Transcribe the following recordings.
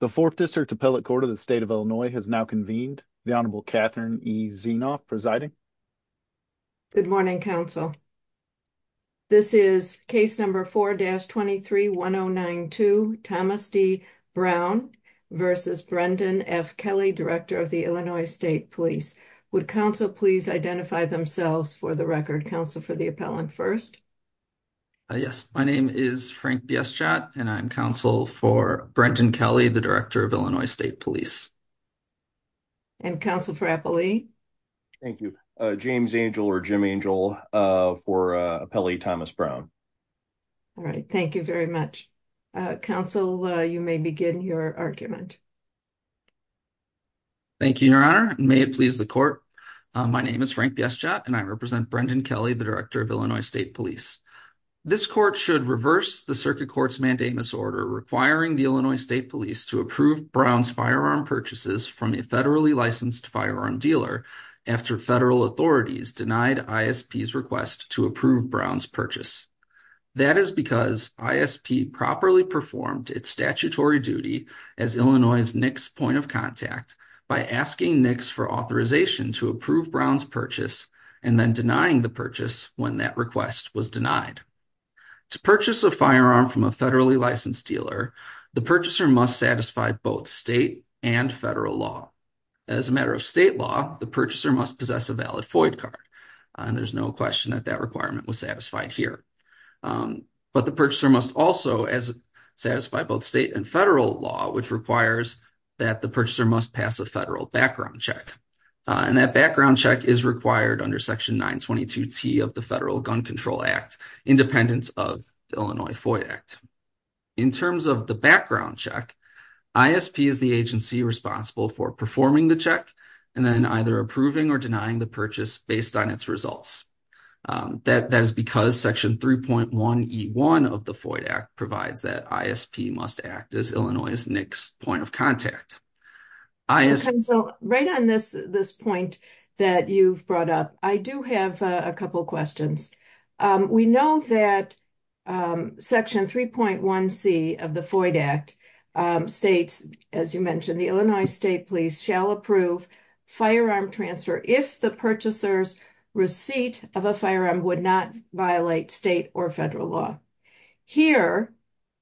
The 4th District Appellate Court of the State of Illinois has now convened. The Honorable Catherine E. Zienoff presiding. Good morning, counsel. This is case number 4-231092, Thomas D. Brown v. Brendan F. Kelly, Director of the Illinois State Police. Would counsel please identify themselves for the record? Counsel for the appellant first. Yes, my name is Frank Biestjot, and I'm counsel for Brendan Kelly, the Director of Illinois State Police. And counsel for Appellee? Thank you. James Angel or Jim Angel for Appellee Thomas Brown. All right, thank you very much. Counsel, you may begin your argument. Thank you, Your Honor. May it please the court. My name is Frank Biestjot, and I represent Brendan Kelly, the Director of Illinois State Police. This court should reverse the Circuit Court's mandamus order requiring the Illinois State Police to approve Brown's firearm purchases from a federally licensed firearm dealer after federal authorities denied ISP's request to approve Brown's purchase. That is because ISP properly performed its statutory duty as Illinois' NICS point of contact by asking NICS for authorization to approve Brown's purchase and then denying the purchase when that request was denied. To purchase a firearm from a federally licensed dealer, the purchaser must satisfy both state and federal law. As a matter of state law, the purchaser must possess a valid FOID card, and there's no question that that requirement was satisfied here. But the purchaser must also satisfy both state and federal law, which requires that the purchaser must pass a federal background check. And that background check is required under Section 922T of the Federal Gun Control Act, independent of the Illinois FOID Act. In terms of the background check, ISP is the agency responsible for performing the check and then either approving or denying the purchase based on its results. That is because Section 3.1E1 of the FOID Act provides that ISP must act as Illinois' NICS point of contact. Right on this point that you've brought up, I do have a couple questions. We know that Section 3.1C of the FOID Act states, as you mentioned, the Illinois State Police shall approve firearm transfer if the purchaser's receipt of a firearm would not violate state or federal law. Here,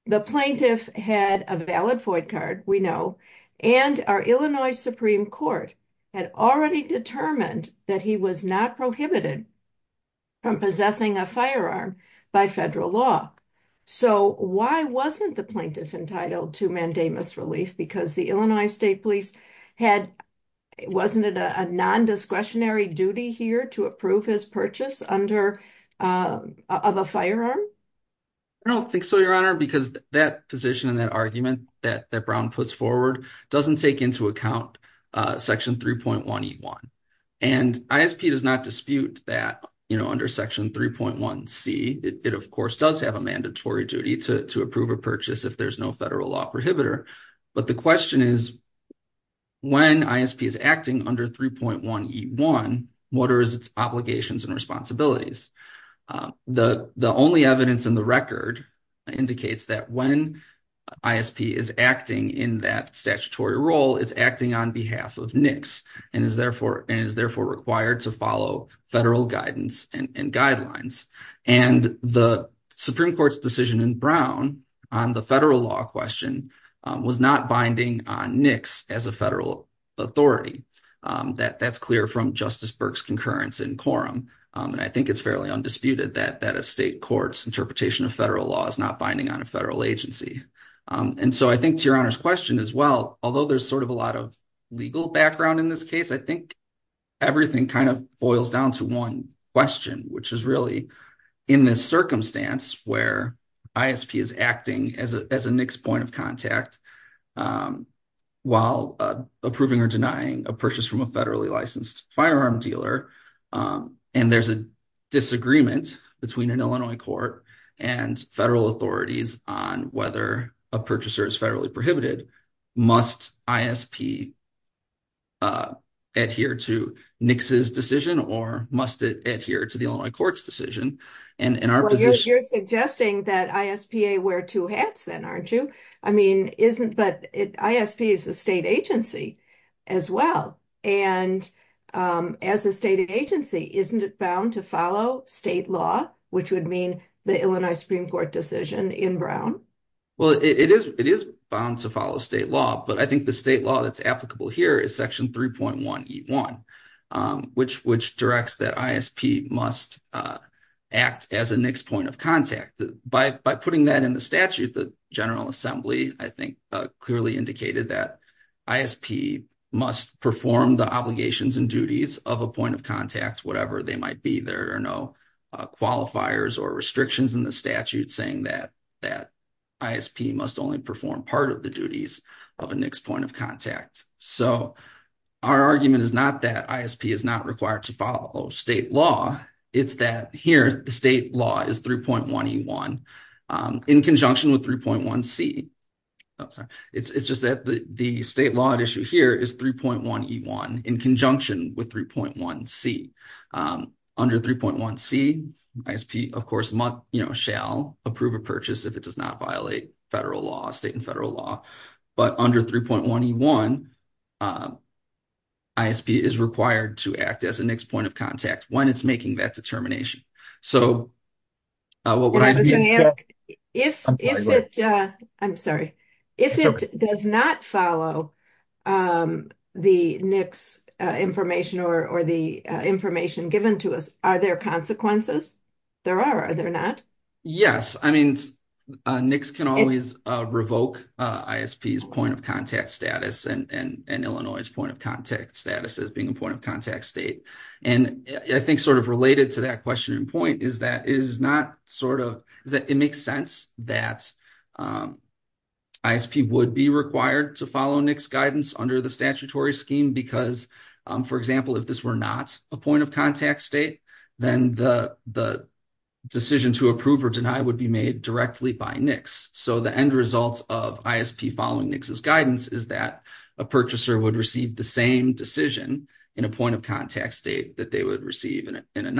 the plaintiff had a valid FOID card, we know, and our Illinois Supreme Court had already determined that he was not prohibited from possessing a firearm by federal law. So, why wasn't the plaintiff entitled to mandamus relief? Because the Illinois State Police, wasn't it a non-discretionary duty here to approve his purchase of a firearm? I don't think so, Your Honor, because that position and that argument that Brown puts forward doesn't take into account Section 3.1E1. And ISP does not dispute that under Section 3.1C. It, of course, does have a mandatory duty to approve a purchase if there's no federal law prohibitor. But the question is, when ISP is acting under 3.1E1, what are its obligations and responsibilities? The only evidence in the record indicates that when ISP is acting in that statutory role, it's acting on behalf of NICS and is therefore required to follow federal guidance and guidelines. And the Supreme Court's decision in Brown on the federal law question was not binding on NICS as a federal authority. That's clear from Justice Burke's concurrence in quorum, and I think it's fairly undisputed that a state court's interpretation of federal law is not binding on a federal agency. And so I think, to Your Honor's question as well, although there's sort of a lot of legal background in this case, I think everything kind of boils down to one question, which is really, in this circumstance where ISP is acting as a NICS point of contact while approving or denying a purchase from a federally licensed firearm dealer, and there's a disagreement between an Illinois court and federal authorities on whether a purchaser is federally prohibited, must ISP adhere to NICS's decision or must it adhere to the Illinois court's decision? Well, you're suggesting that ISPA wear two hats then, aren't you? But ISP is a state agency as well, and as a state agency, isn't it bound to follow state law, which would mean the Illinois Supreme Court decision in Brown? Well, it is bound to follow state law, but I think the state law that's applicable here is Section 3.1E1, which directs that ISP must act as a NICS point of contact. By putting that in the statute, the General Assembly, I think, clearly indicated that ISP must perform the obligations and duties of a point of contact, whatever they might be. There are no qualifiers or restrictions in the statute saying that ISP must only perform part of the duties of a NICS point of contact. So, our argument is not that ISP is not required to follow state law. It's that here, the state law is 3.1E1 in conjunction with 3.1C. It's just that the state law at issue here is 3.1E1 in conjunction with 3.1C. Under 3.1C, ISP, of course, shall approve a purchase if it does not violate federal law, state and federal law. But under 3.1E1, ISP is required to act as a NICS point of contact when it's making that determination. If it does not follow the NICS information or the information given to us, are there consequences? There are. Are there not? Yes. I mean, NICS can always revoke ISP's point of contact status and Illinois' point of contact status as being a point of contact state. And I think sort of related to that question and point is that it makes sense that ISP would be required to follow NICS guidance under the statutory scheme because, for example, if this were not a point of contact state, then the decision to approve or deny would be made directly by NICS. So the end result of ISP following NICS's guidance is that a purchaser would receive the same decision in a point of contact state that they would receive in a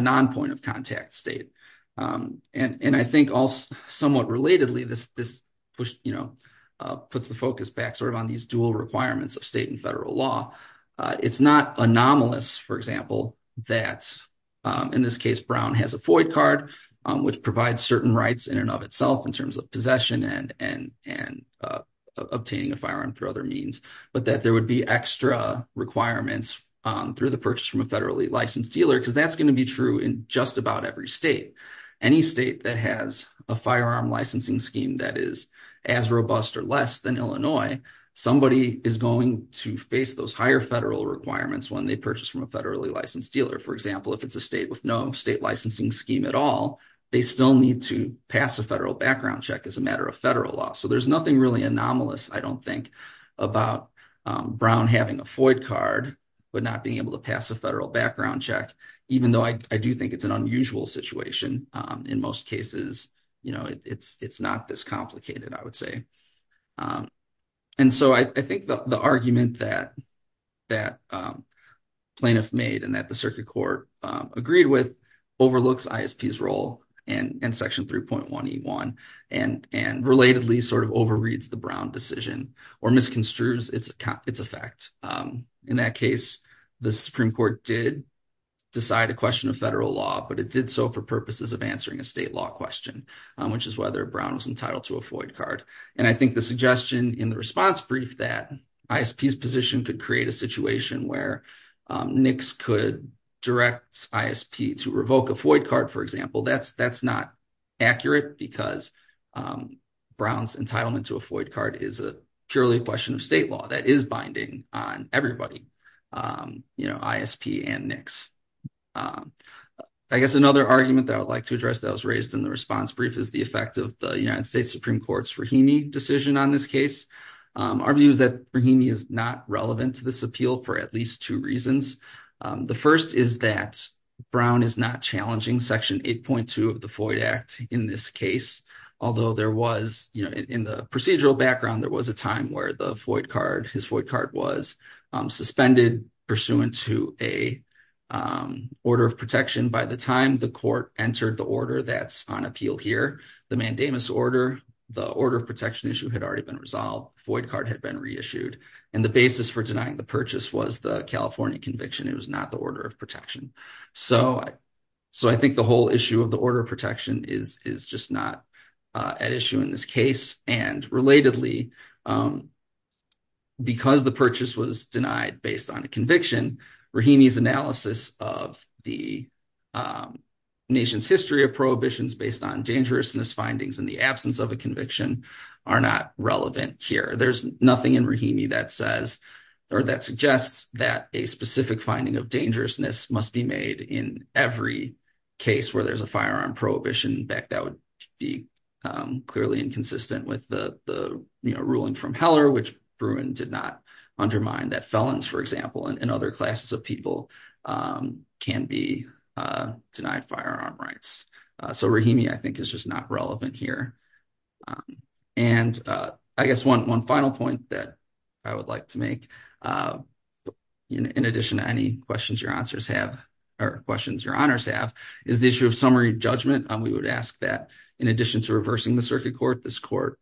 non-point of contact state. And I think also somewhat relatedly, this puts the focus back sort of on these dual requirements of state and federal law. It's not anomalous, for example, that in this case, Brown has a FOID card, which provides certain rights in and of itself in terms of possession and obtaining a firearm through other means, but that there would be extra requirements through the purchase from a federally licensed dealer because that's going to be true in just about every state. Any state that has a firearm licensing scheme that is as robust or less than Illinois, somebody is going to face those higher federal requirements when they purchase from a federally licensed dealer. For example, if it's a state with no state licensing scheme at all, they still need to pass a federal background check as a matter of federal law. So there's nothing really anomalous, I don't think, about Brown having a FOID card, but not being able to pass a federal background check, even though I do think it's an unusual situation. In most cases, it's not this complicated, I would say. And so I think the argument that plaintiff made and that the circuit court agreed with overlooks ISP's role in Section 3.1E1 and relatedly sort of overreads the Brown decision or misconstrues its effect. In that case, the Supreme Court did decide a question of federal law, but it did so for purposes of answering a state law question, which is whether Brown was entitled to a FOID card. And I think the suggestion in the response brief that ISP's position could create a situation where NICS could direct ISP to revoke a FOID card, for example, that's not accurate because Brown's entitlement to a FOID card is purely a question of state law. That is binding on everybody, ISP and NICS. I guess another argument that I would like to address that was raised in the response brief is the effect of the United States Supreme Court's Rahimi decision on this case. Our view is that Rahimi is not relevant to this appeal for at least two reasons. The first is that Brown is not challenging Section 8.2 of the FOID Act in this case, although there was, you know, in the procedural background, there was a time where the FOID card, his FOID card was suspended pursuant to a order of protection. By the time the court entered the order that's on appeal here, the mandamus order, the order of protection issue had already been resolved. FOID card had been reissued, and the basis for denying the purchase was the California conviction. It was not the order of protection. So I think the whole issue of the order of protection is just not at issue in this case. And relatedly, because the purchase was denied based on a conviction, Rahimi's analysis of the nation's history of prohibitions based on dangerousness findings in the absence of a conviction are not relevant here. There's nothing in Rahimi that says or that suggests that a specific finding of dangerousness must be made in every case where there's a firearm prohibition. In fact, that would be clearly inconsistent with the ruling from Heller, which Bruin did not undermine, that felons, for example, and other classes of people can be denied firearm rights. So Rahimi, I think, is just not relevant here. And I guess one final point that I would like to make, in addition to any questions your answers have or questions your honors have, is the issue of summary judgment. We would ask that, in addition to reversing the circuit court, this court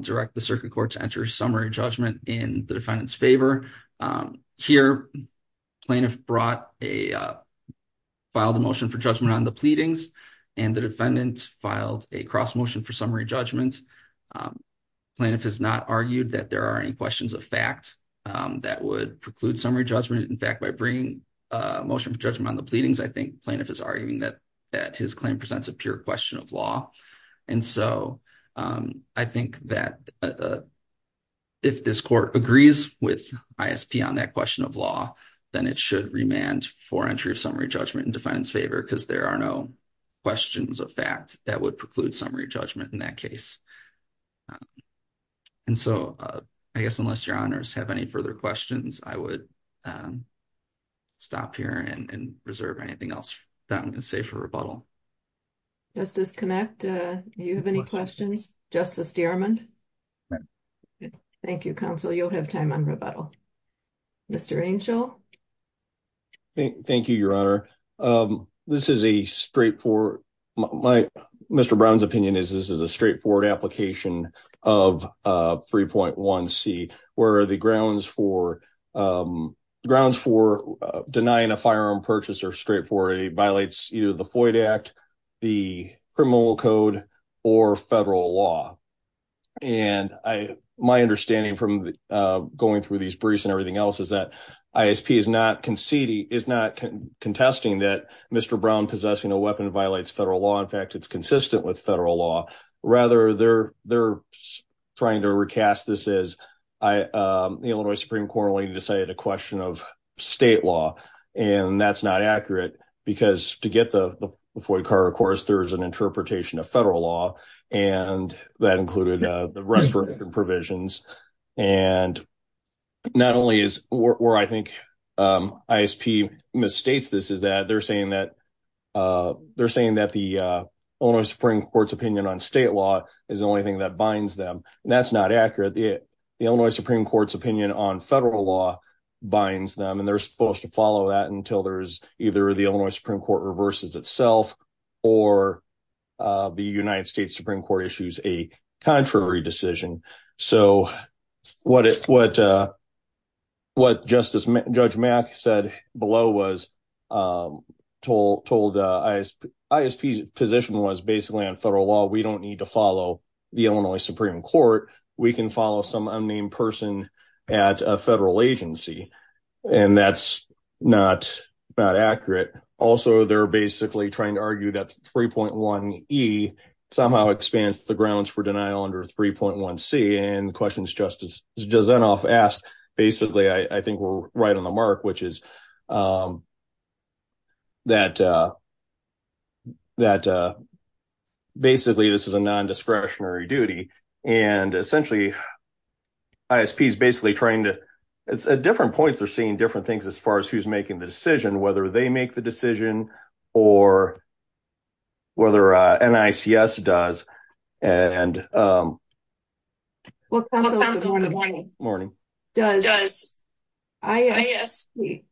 direct the circuit court to enter summary judgment in the defendant's favor. Here, plaintiff filed a motion for judgment on the pleadings, and the defendant filed a cross motion for summary judgment. Plaintiff has not argued that there are any questions of fact that would preclude summary judgment. In fact, by bringing a motion for judgment on the pleadings, I think plaintiff is arguing that his claim presents a pure question of law. And so I think that if this court agrees with ISP on that question of law, then it should remand for entry of summary judgment in defendant's favor, because there are no questions of fact that would preclude summary judgment in that case. And so I guess unless your honors have any further questions, I would stop here and reserve anything else that I'm going to say for rebuttal. Justice Connett, do you have any questions? Justice Stearman? No. Thank you, counsel. You'll have time on rebuttal. Mr. Angel? Thank you, your honor. This is a straightforward. Mr. Brown's opinion is this is a straightforward application of 3.1c, where the grounds for denying a firearm purchase are straightforward. It violates either the Floyd Act, the criminal code, or federal law. And my understanding from going through these briefs and everything else is that ISP is not contesting that Mr. Brown possessing a weapon violates federal law. In fact, it's consistent with federal law. Rather, they're trying to recast this as the Illinois Supreme Court only decided a question of state law, and that's not accurate. Because to get the Floyd car, of course, there is an interpretation of federal law, and that included the restoration provisions. And not only is where I think ISP misstates this is that they're saying that the Illinois Supreme Court's opinion on state law is the only thing that binds them. And that's not accurate. The Illinois Supreme Court's opinion on federal law binds them, and they're supposed to follow that until there's either the Illinois Supreme Court reverses itself or the United States Supreme Court issues a contrary decision. So what Justice Judge Mack said below was told ISP's position was basically on federal law. We don't need to follow the Illinois Supreme Court. We can follow some unnamed person at a federal agency, and that's not accurate. Also, they're basically trying to argue that 3.1e somehow expands the grounds for denial under 3.1c. And the questions Justice Zinoff asked, basically, I think we're right on the mark, which is that basically this is a non-discretionary duty. And essentially, ISP's basically trying to – at different points, they're saying different things as far as who's making the decision, whether they make the decision or whether NICS does. Counsel, good morning. Does ISP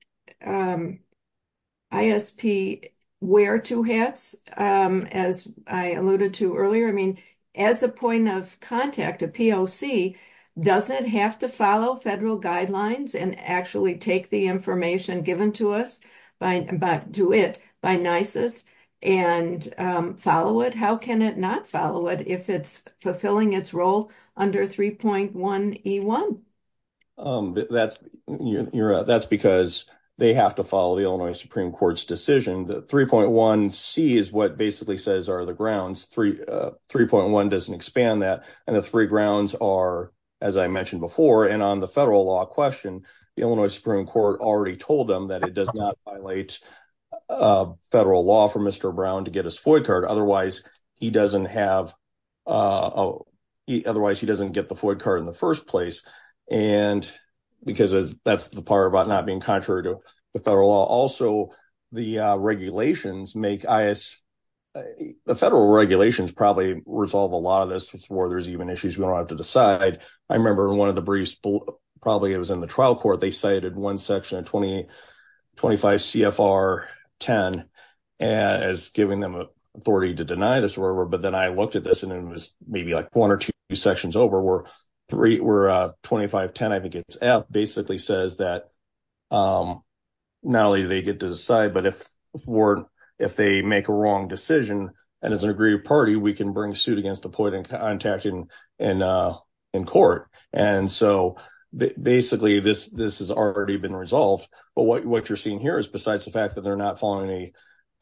wear two hats, as I alluded to earlier? I mean, as a point of contact, a POC, doesn't it have to follow federal guidelines and actually take the information given to us by NICS and follow it? How can it not follow it if it's fulfilling its role under 3.1e1? That's because they have to follow the Illinois Supreme Court's decision that 3.1c is what basically says are the grounds. 3.1 doesn't expand that, and the three grounds are, as I mentioned before, and on the federal law question, the Illinois Supreme Court already told them that it does not violate federal law for Mr. Brown to get his FOIA card. Otherwise, he doesn't have – otherwise, he doesn't get the FOIA card in the first place because that's the part about not being contrary to the federal law. Also, the regulations make – the federal regulations probably resolve a lot of this before there's even issues we don't have to decide. I remember in one of the briefs, probably it was in the trial court, they cited one section of 25 CFR 10 as giving them authority to deny this. But then I looked at this, and it was maybe like one or two sections over where 2510, I think it's F, basically says that not only do they get to decide, but if they make a wrong decision, and it's an aggrieved party, we can bring suit against the point of contacting in court. And so basically, this has already been resolved. But what you're seeing here is besides the fact that they're not following the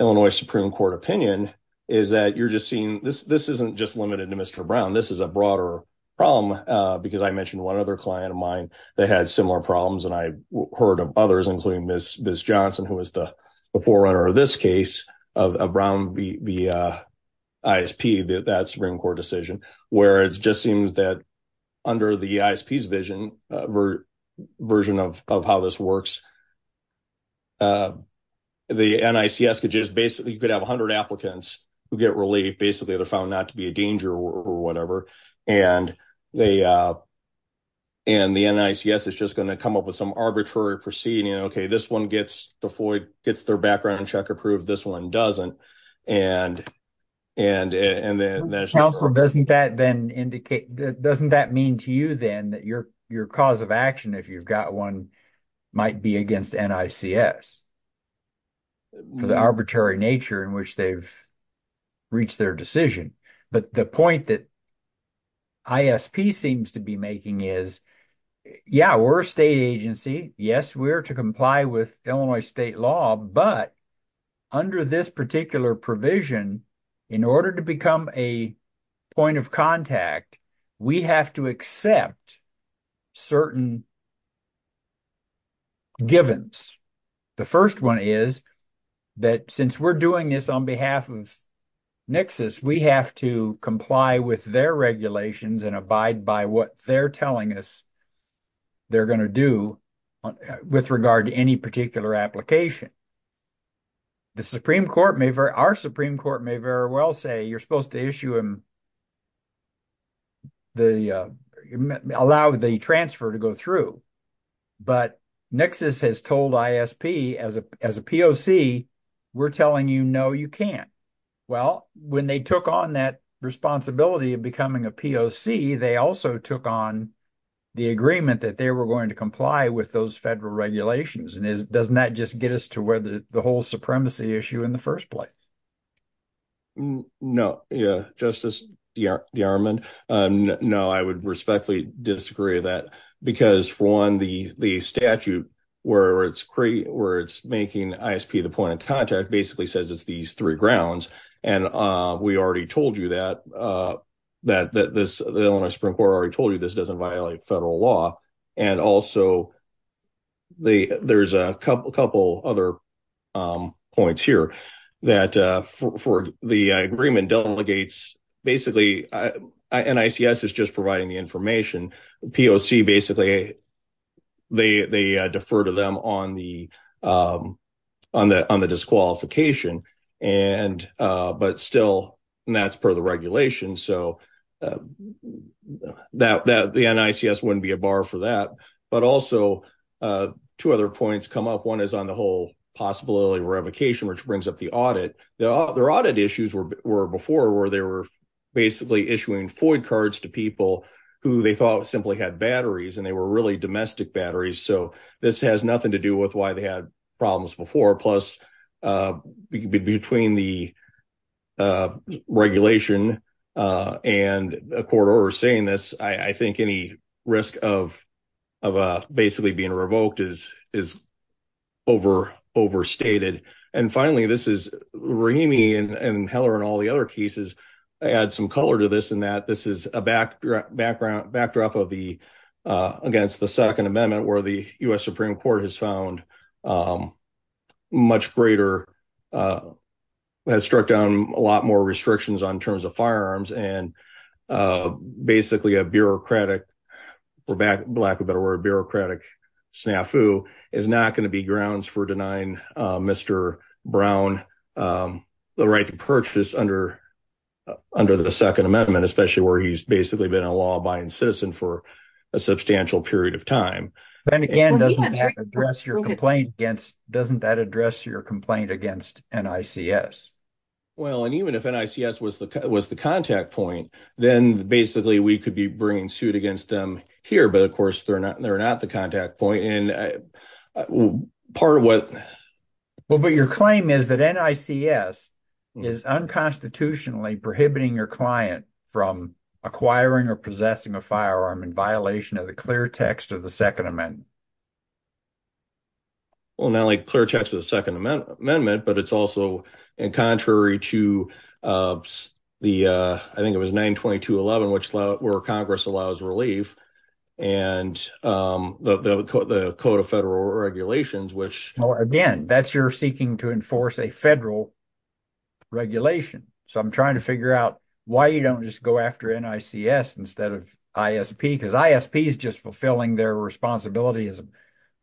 Illinois Supreme Court opinion is that you're just seeing – this isn't just limited to Mr. Brown. This is a broader problem because I mentioned one other client of mine that had similar problems, and I heard of others, including Ms. Johnson, who was the forerunner of this case of Brown v. ISP, that Supreme Court decision, where it just seems that under the ISP's vision, version of how this works, the NICS could just basically – you could have 100 applicants who get released basically that are found not to be a danger or whatever. And the NICS is just going to come up with some arbitrary proceeding. Okay, this one gets the FOIA – gets their background check approved. This one doesn't. And – Counsel, doesn't that then indicate – doesn't that mean to you then that your cause of action, if you've got one, might be against NICS for the arbitrary nature in which they've reached their decision? But the point that ISP seems to be making is, yeah, we're a state agency. Yes, we're to comply with Illinois state law, but under this particular provision, in order to become a point of contact, we have to accept certain givens. The first one is that since we're doing this on behalf of NICS, we have to comply with their regulations and abide by what they're telling us they're going to do with regard to any particular application. Our Supreme Court may very well say you're supposed to allow the transfer to go through. But NICS has told ISP, as a POC, we're telling you, no, you can't. Well, when they took on that responsibility of becoming a POC, they also took on the agreement that they were going to comply with those federal regulations. And doesn't that just get us to where the whole supremacy issue in the first place? No, Justice DeArmond. No, I would respectfully disagree with that because, for one, the statute where it's making ISP the point of contact basically says it's these three grounds. And we already told you that. The Illinois Supreme Court already told you this doesn't violate federal law. And also, there's a couple other points here that for the agreement delegates, basically NICS is just providing the information. POC, basically, they defer to them on the disqualification. But still, that's per the regulation. So the NICS wouldn't be a bar for that. But also, two other points come up. One is on the whole possibility of revocation, which brings up the audit. Their audit issues were before where they were basically issuing FOID cards to people who they thought simply had batteries and they were really domestic batteries. So this has nothing to do with why they had problems before. Plus, between the regulation and a court order saying this, I think any risk of basically being revoked is overstated. And finally, this is Rahimi and Heller and all the other cases. I add some color to this in that this is a backdrop against the Second Amendment where the U.S. Supreme Court has struck down a lot more restrictions on terms of firearms. And basically, a bureaucratic snafu is not going to be grounds for denying Mr. Brown the right to purchase under the Second Amendment, especially where he's basically been a law-abiding citizen for a substantial period of time. And again, doesn't that address your complaint against NICS? Well, and even if NICS was the contact point, then basically we could be bringing suit against them here. But, of course, they're not the contact point. Well, but your claim is that NICS is unconstitutionally prohibiting your client from acquiring or possessing a firearm in violation of the clear text of the Second Amendment. Well, not like clear text of the Second Amendment, but it's also in contrary to the, I think it was 922.11, where Congress allows relief and the Code of Federal Regulations, which… Because ISP is just fulfilling their responsibility as a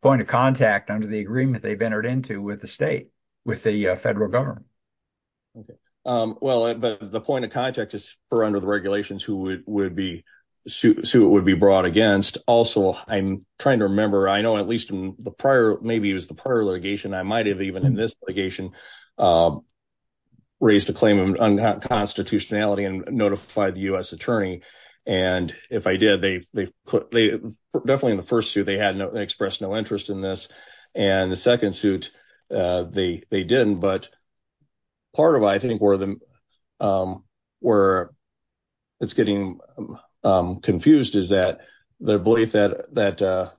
point of contact under the agreement they've entered into with the state, with the federal government. Well, but the point of contact is under the regulations who it would be brought against. Also, I'm trying to remember, I know at least in the prior, maybe it was the prior litigation, I might have even in this litigation raised a claim of unconstitutionality and notified the U.S. attorney. And if I did, definitely in the first suit, they expressed no interest in this. And the second suit, they didn't. But part of, I think, where it's getting confused is that the belief that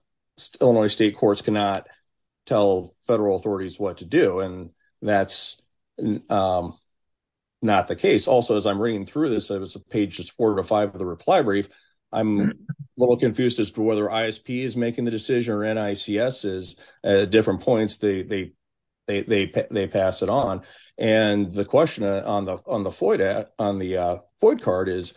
Illinois state courts cannot tell federal authorities what to do, and that's not the case. Also, as I'm reading through this, it was page 4-5 of the reply brief, I'm a little confused as to whether ISP is making the decision or NICS is. At different points, they pass it on. And the question on the FOID card is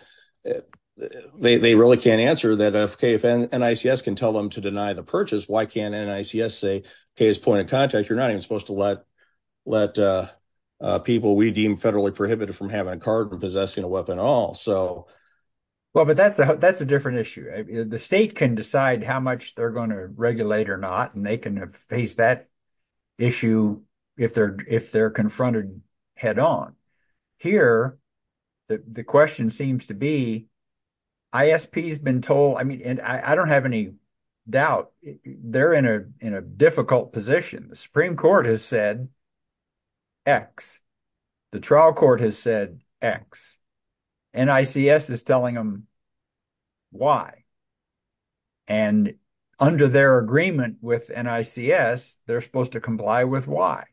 they really can't answer that. Okay, if NICS can tell them to deny the purchase, why can't NICS say, okay, as a point of contact, you're not even supposed to let people we deem federally prohibited from having a card and possessing a weapon at all. Well, but that's a different issue. The state can decide how much they're going to regulate or not, and they can face that issue if they're confronted head on. Here, the question seems to be, ISP's been told, I mean, I don't have any doubt, they're in a difficult position. The Supreme Court has said X. The trial court has said X. NICS is telling them Y. And under their agreement with NICS, they're supposed to comply with Y.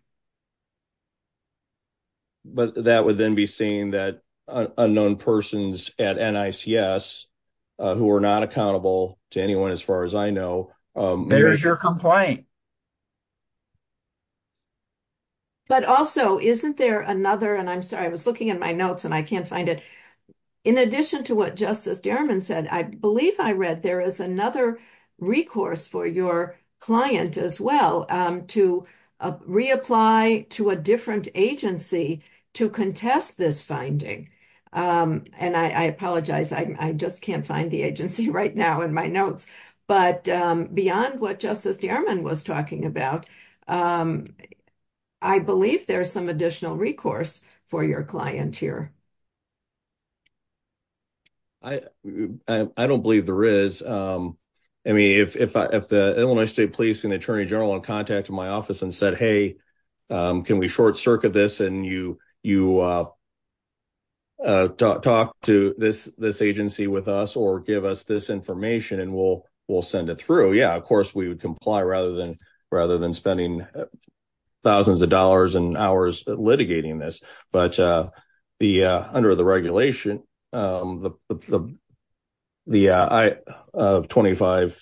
But that would then be saying that unknown persons at NICS, who are not accountable to anyone, as far as I know. There's your complaint. But also, isn't there another, and I'm sorry, I was looking at my notes and I can't find it. In addition to what Justice Dierman said, I believe I read there is another recourse for your client as well to reapply to a different agency to contest this finding. And I apologize. I just can't find the agency right now in my notes. But beyond what Justice Dierman was talking about, I believe there's some additional recourse for your client here. I don't believe there is. I mean, if the Illinois State Police and Attorney General contacted my office and said, hey, can we short circuit this and you talk to this agency with us or give us this information and we'll send it through. Yeah, of course we would comply rather than spending thousands of dollars and hours litigating this. But under the regulation, the 2510F,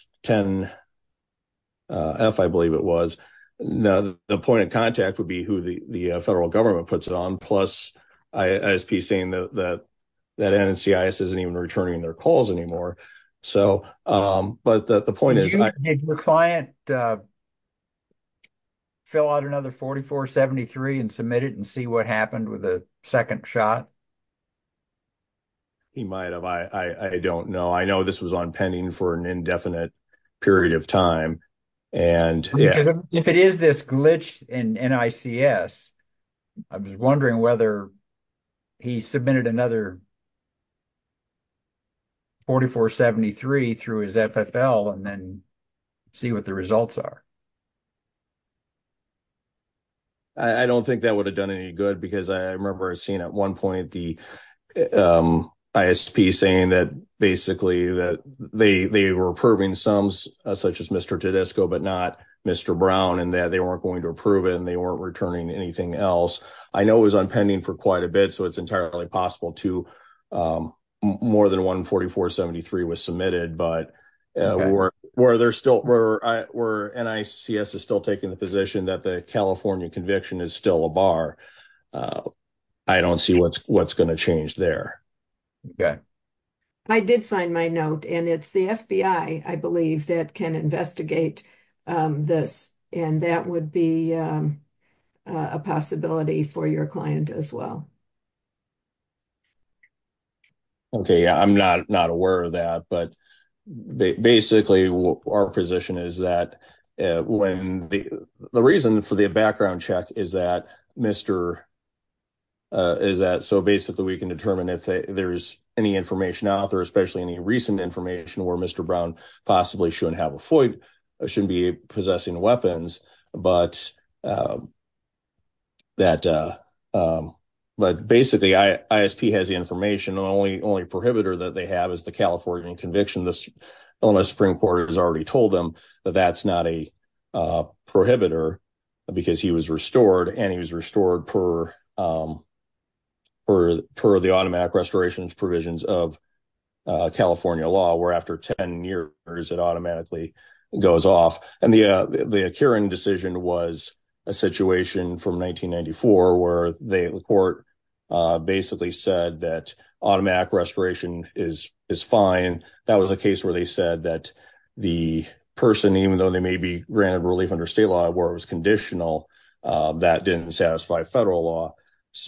I believe it was, the point of contact would be who the federal government puts it on, plus ISP saying that NICS isn't even returning their calls anymore. So, but the point is… Did your client fill out another 4473 and submit it and see what happened with the second shot? He might have. I don't know. I know this was on pending for an indefinite period of time. If it is this glitch in NICS, I was wondering whether he submitted another 4473 through his FFL and then see what the results are. I don't think that would have done any good because I remember seeing at one point the ISP saying that basically that they were approving sums such as Mr. Tedisco, but not Mr. Brown, and that they weren't going to approve it and they weren't returning anything else. I know it was on pending for quite a bit, so it's entirely possible that more than one 4473 was submitted, but where NICS is still taking the position that the California conviction is still a bar, I don't see what's going to change there. I did find my note and it's the FBI, I believe, that can investigate this and that would be a possibility for your client as well. Okay, I'm not aware of that, but basically our position is that when the reason for the background check is that Mr. Is that so basically we can determine if there is any information out there, especially any recent information where Mr. Brown possibly shouldn't have a Floyd or shouldn't be possessing weapons, but. That, but basically ISP has the information only only prohibitor that they have is the California conviction. This Supreme Court has already told them that that's not a prohibitor because he was restored and he was restored per. Per the automatic restorations provisions of California law, where, after 10 years, it automatically goes off and the current decision was a situation from 1994, where the court basically said that automatic restoration is is fine. That was a case where they said that the person, even though they may be granted relief under state law, where it was conditional that didn't satisfy federal law.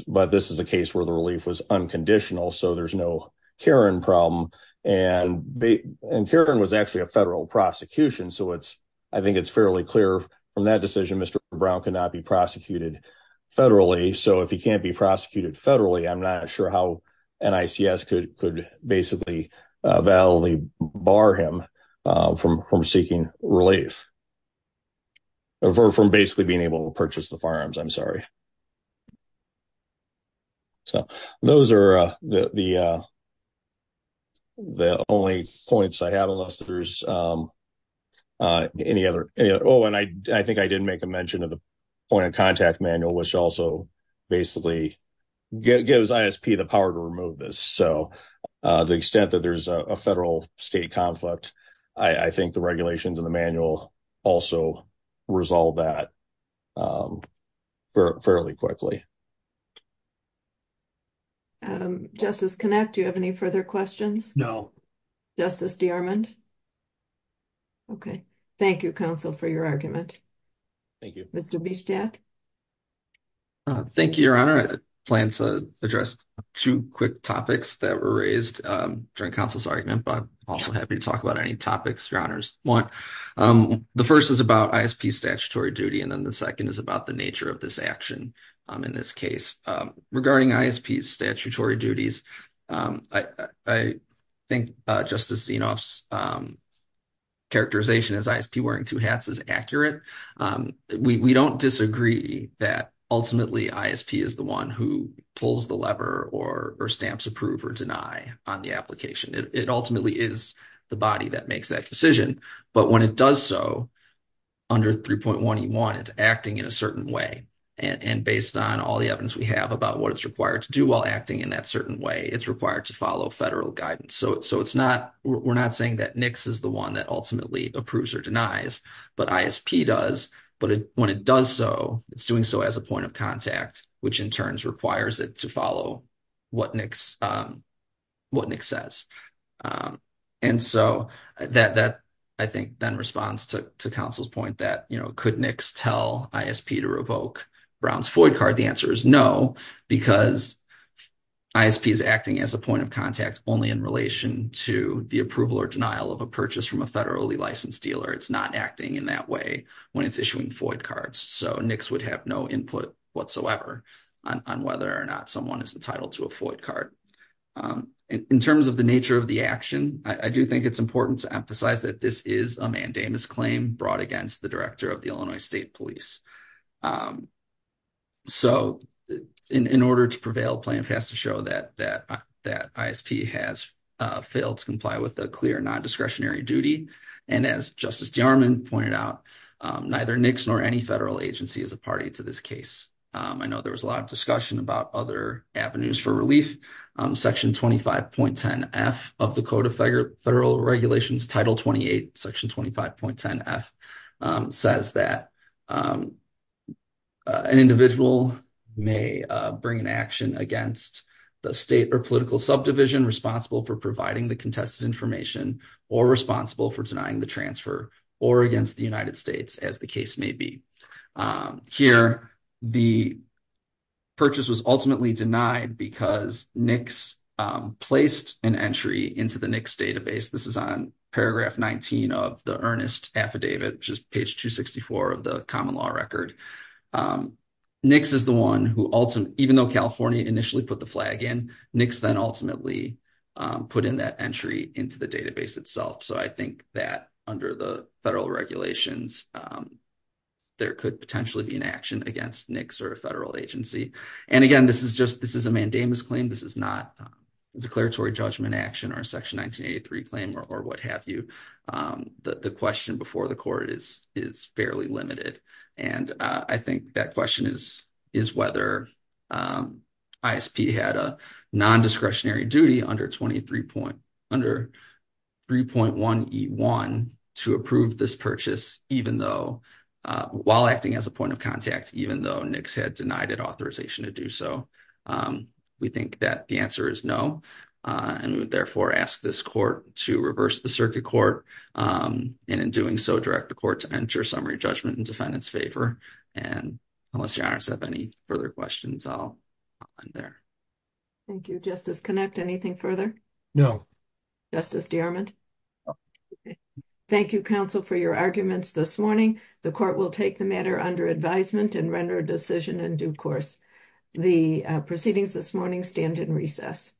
But this is a case where the relief was unconditional, so there's no Karen problem and and Karen was actually a federal prosecution. So, it's, I think it's fairly clear from that decision. Mr. Brown cannot be prosecuted federally. So if he can't be prosecuted federally, I'm not sure how and ICS could could basically validly bar him from from seeking relief. Or from basically being able to purchase the farms. I'm sorry. So, those are the. The only points I have unless there's any other. Oh, and I, I think I didn't make a mention of the point of contact manual, which also basically gives the power to remove this. So, the extent that there's a federal state conflict, I think the regulations and the manual also resolve that. Fairly quickly. Justice connect. Do you have any further questions? No. Justice. Okay, thank you. Counsel for your argument. Thank you. Mr. Thank you. Your honor plan to address 2 quick topics that were raised during counsel's argument, but also happy to talk about any topics. Your honors 1. The 1st is about statutory duty. And then the 2nd is about the nature of this action. In this case, regarding statutory duties. I think justice characterization as wearing 2 hats is accurate. We don't disagree that ultimately is the 1 who pulls the lever or or stamps approve or deny on the application. It ultimately is the body that makes that decision. But when it does, so. Under 3.1, you want it to acting in a certain way and based on all the evidence we have about what it's required to do while acting in that certain way, it's required to follow federal guidance. So, so it's not, we're not saying that nix is the 1 that ultimately approves or denies, but does, but when it does, so it's doing so as a point of contact, which in turns requires it to follow. What nix what nix says, and so that I think then responds to counsel's point that, you know, could nix tell to revoke Brown's Floyd card? The answer is no, because. Is acting as a point of contact only in relation to the approval or denial of a purchase from a federally licensed dealer. It's not acting in that way when it's issuing Floyd cards. So nix would have no input whatsoever on whether or not someone is entitled to a Floyd card. In terms of the nature of the action, I do think it's important to emphasize that this is a mandamus claim brought against the director of the Illinois state police. So, in order to prevail, plan has to show that that that has failed to comply with a clear non discretionary duty. And as justice pointed out, neither nix nor any federal agency is a party to this case. I know there was a lot of discussion about other avenues for relief section 25.10 F of the code of federal regulations title 28 section 25.10 F says that. An individual may bring an action against the state or political subdivision responsible for providing the contested information or responsible for denying the transfer or against the United States as the case may be. Here, the purchase was ultimately denied because nix placed an entry into the next database. This is on paragraph 19 of the earnest affidavit, which is page 264 of the common law record. Nix is the one who, even though California initially put the flag in, nix then ultimately put in that entry into the database itself. So I think that under the federal regulations. There could potentially be an action against nix or a federal agency. And again, this is just this is a mandamus claim. This is not a declaratory judgment action or section 1983 claim or what have you. The question before the court is, is fairly limited. And I think that question is, is whether ISP had a non-discretionary duty under 23 point under 3.1 E1 to approve this purchase, even though, while acting as a point of contact, even though nix had denied it authorization to do so. We think that the answer is no, and therefore ask this court to reverse the circuit court, and in doing so, direct the court to enter summary judgment in defendant's favor. And unless you have any further questions, I'll end there. Thank you, Justice. Can I add anything further? No. Justice DeArmond. Thank you counsel for your arguments this morning. The court will take the matter under advisement and render a decision in due course. The proceedings this morning stand in recess.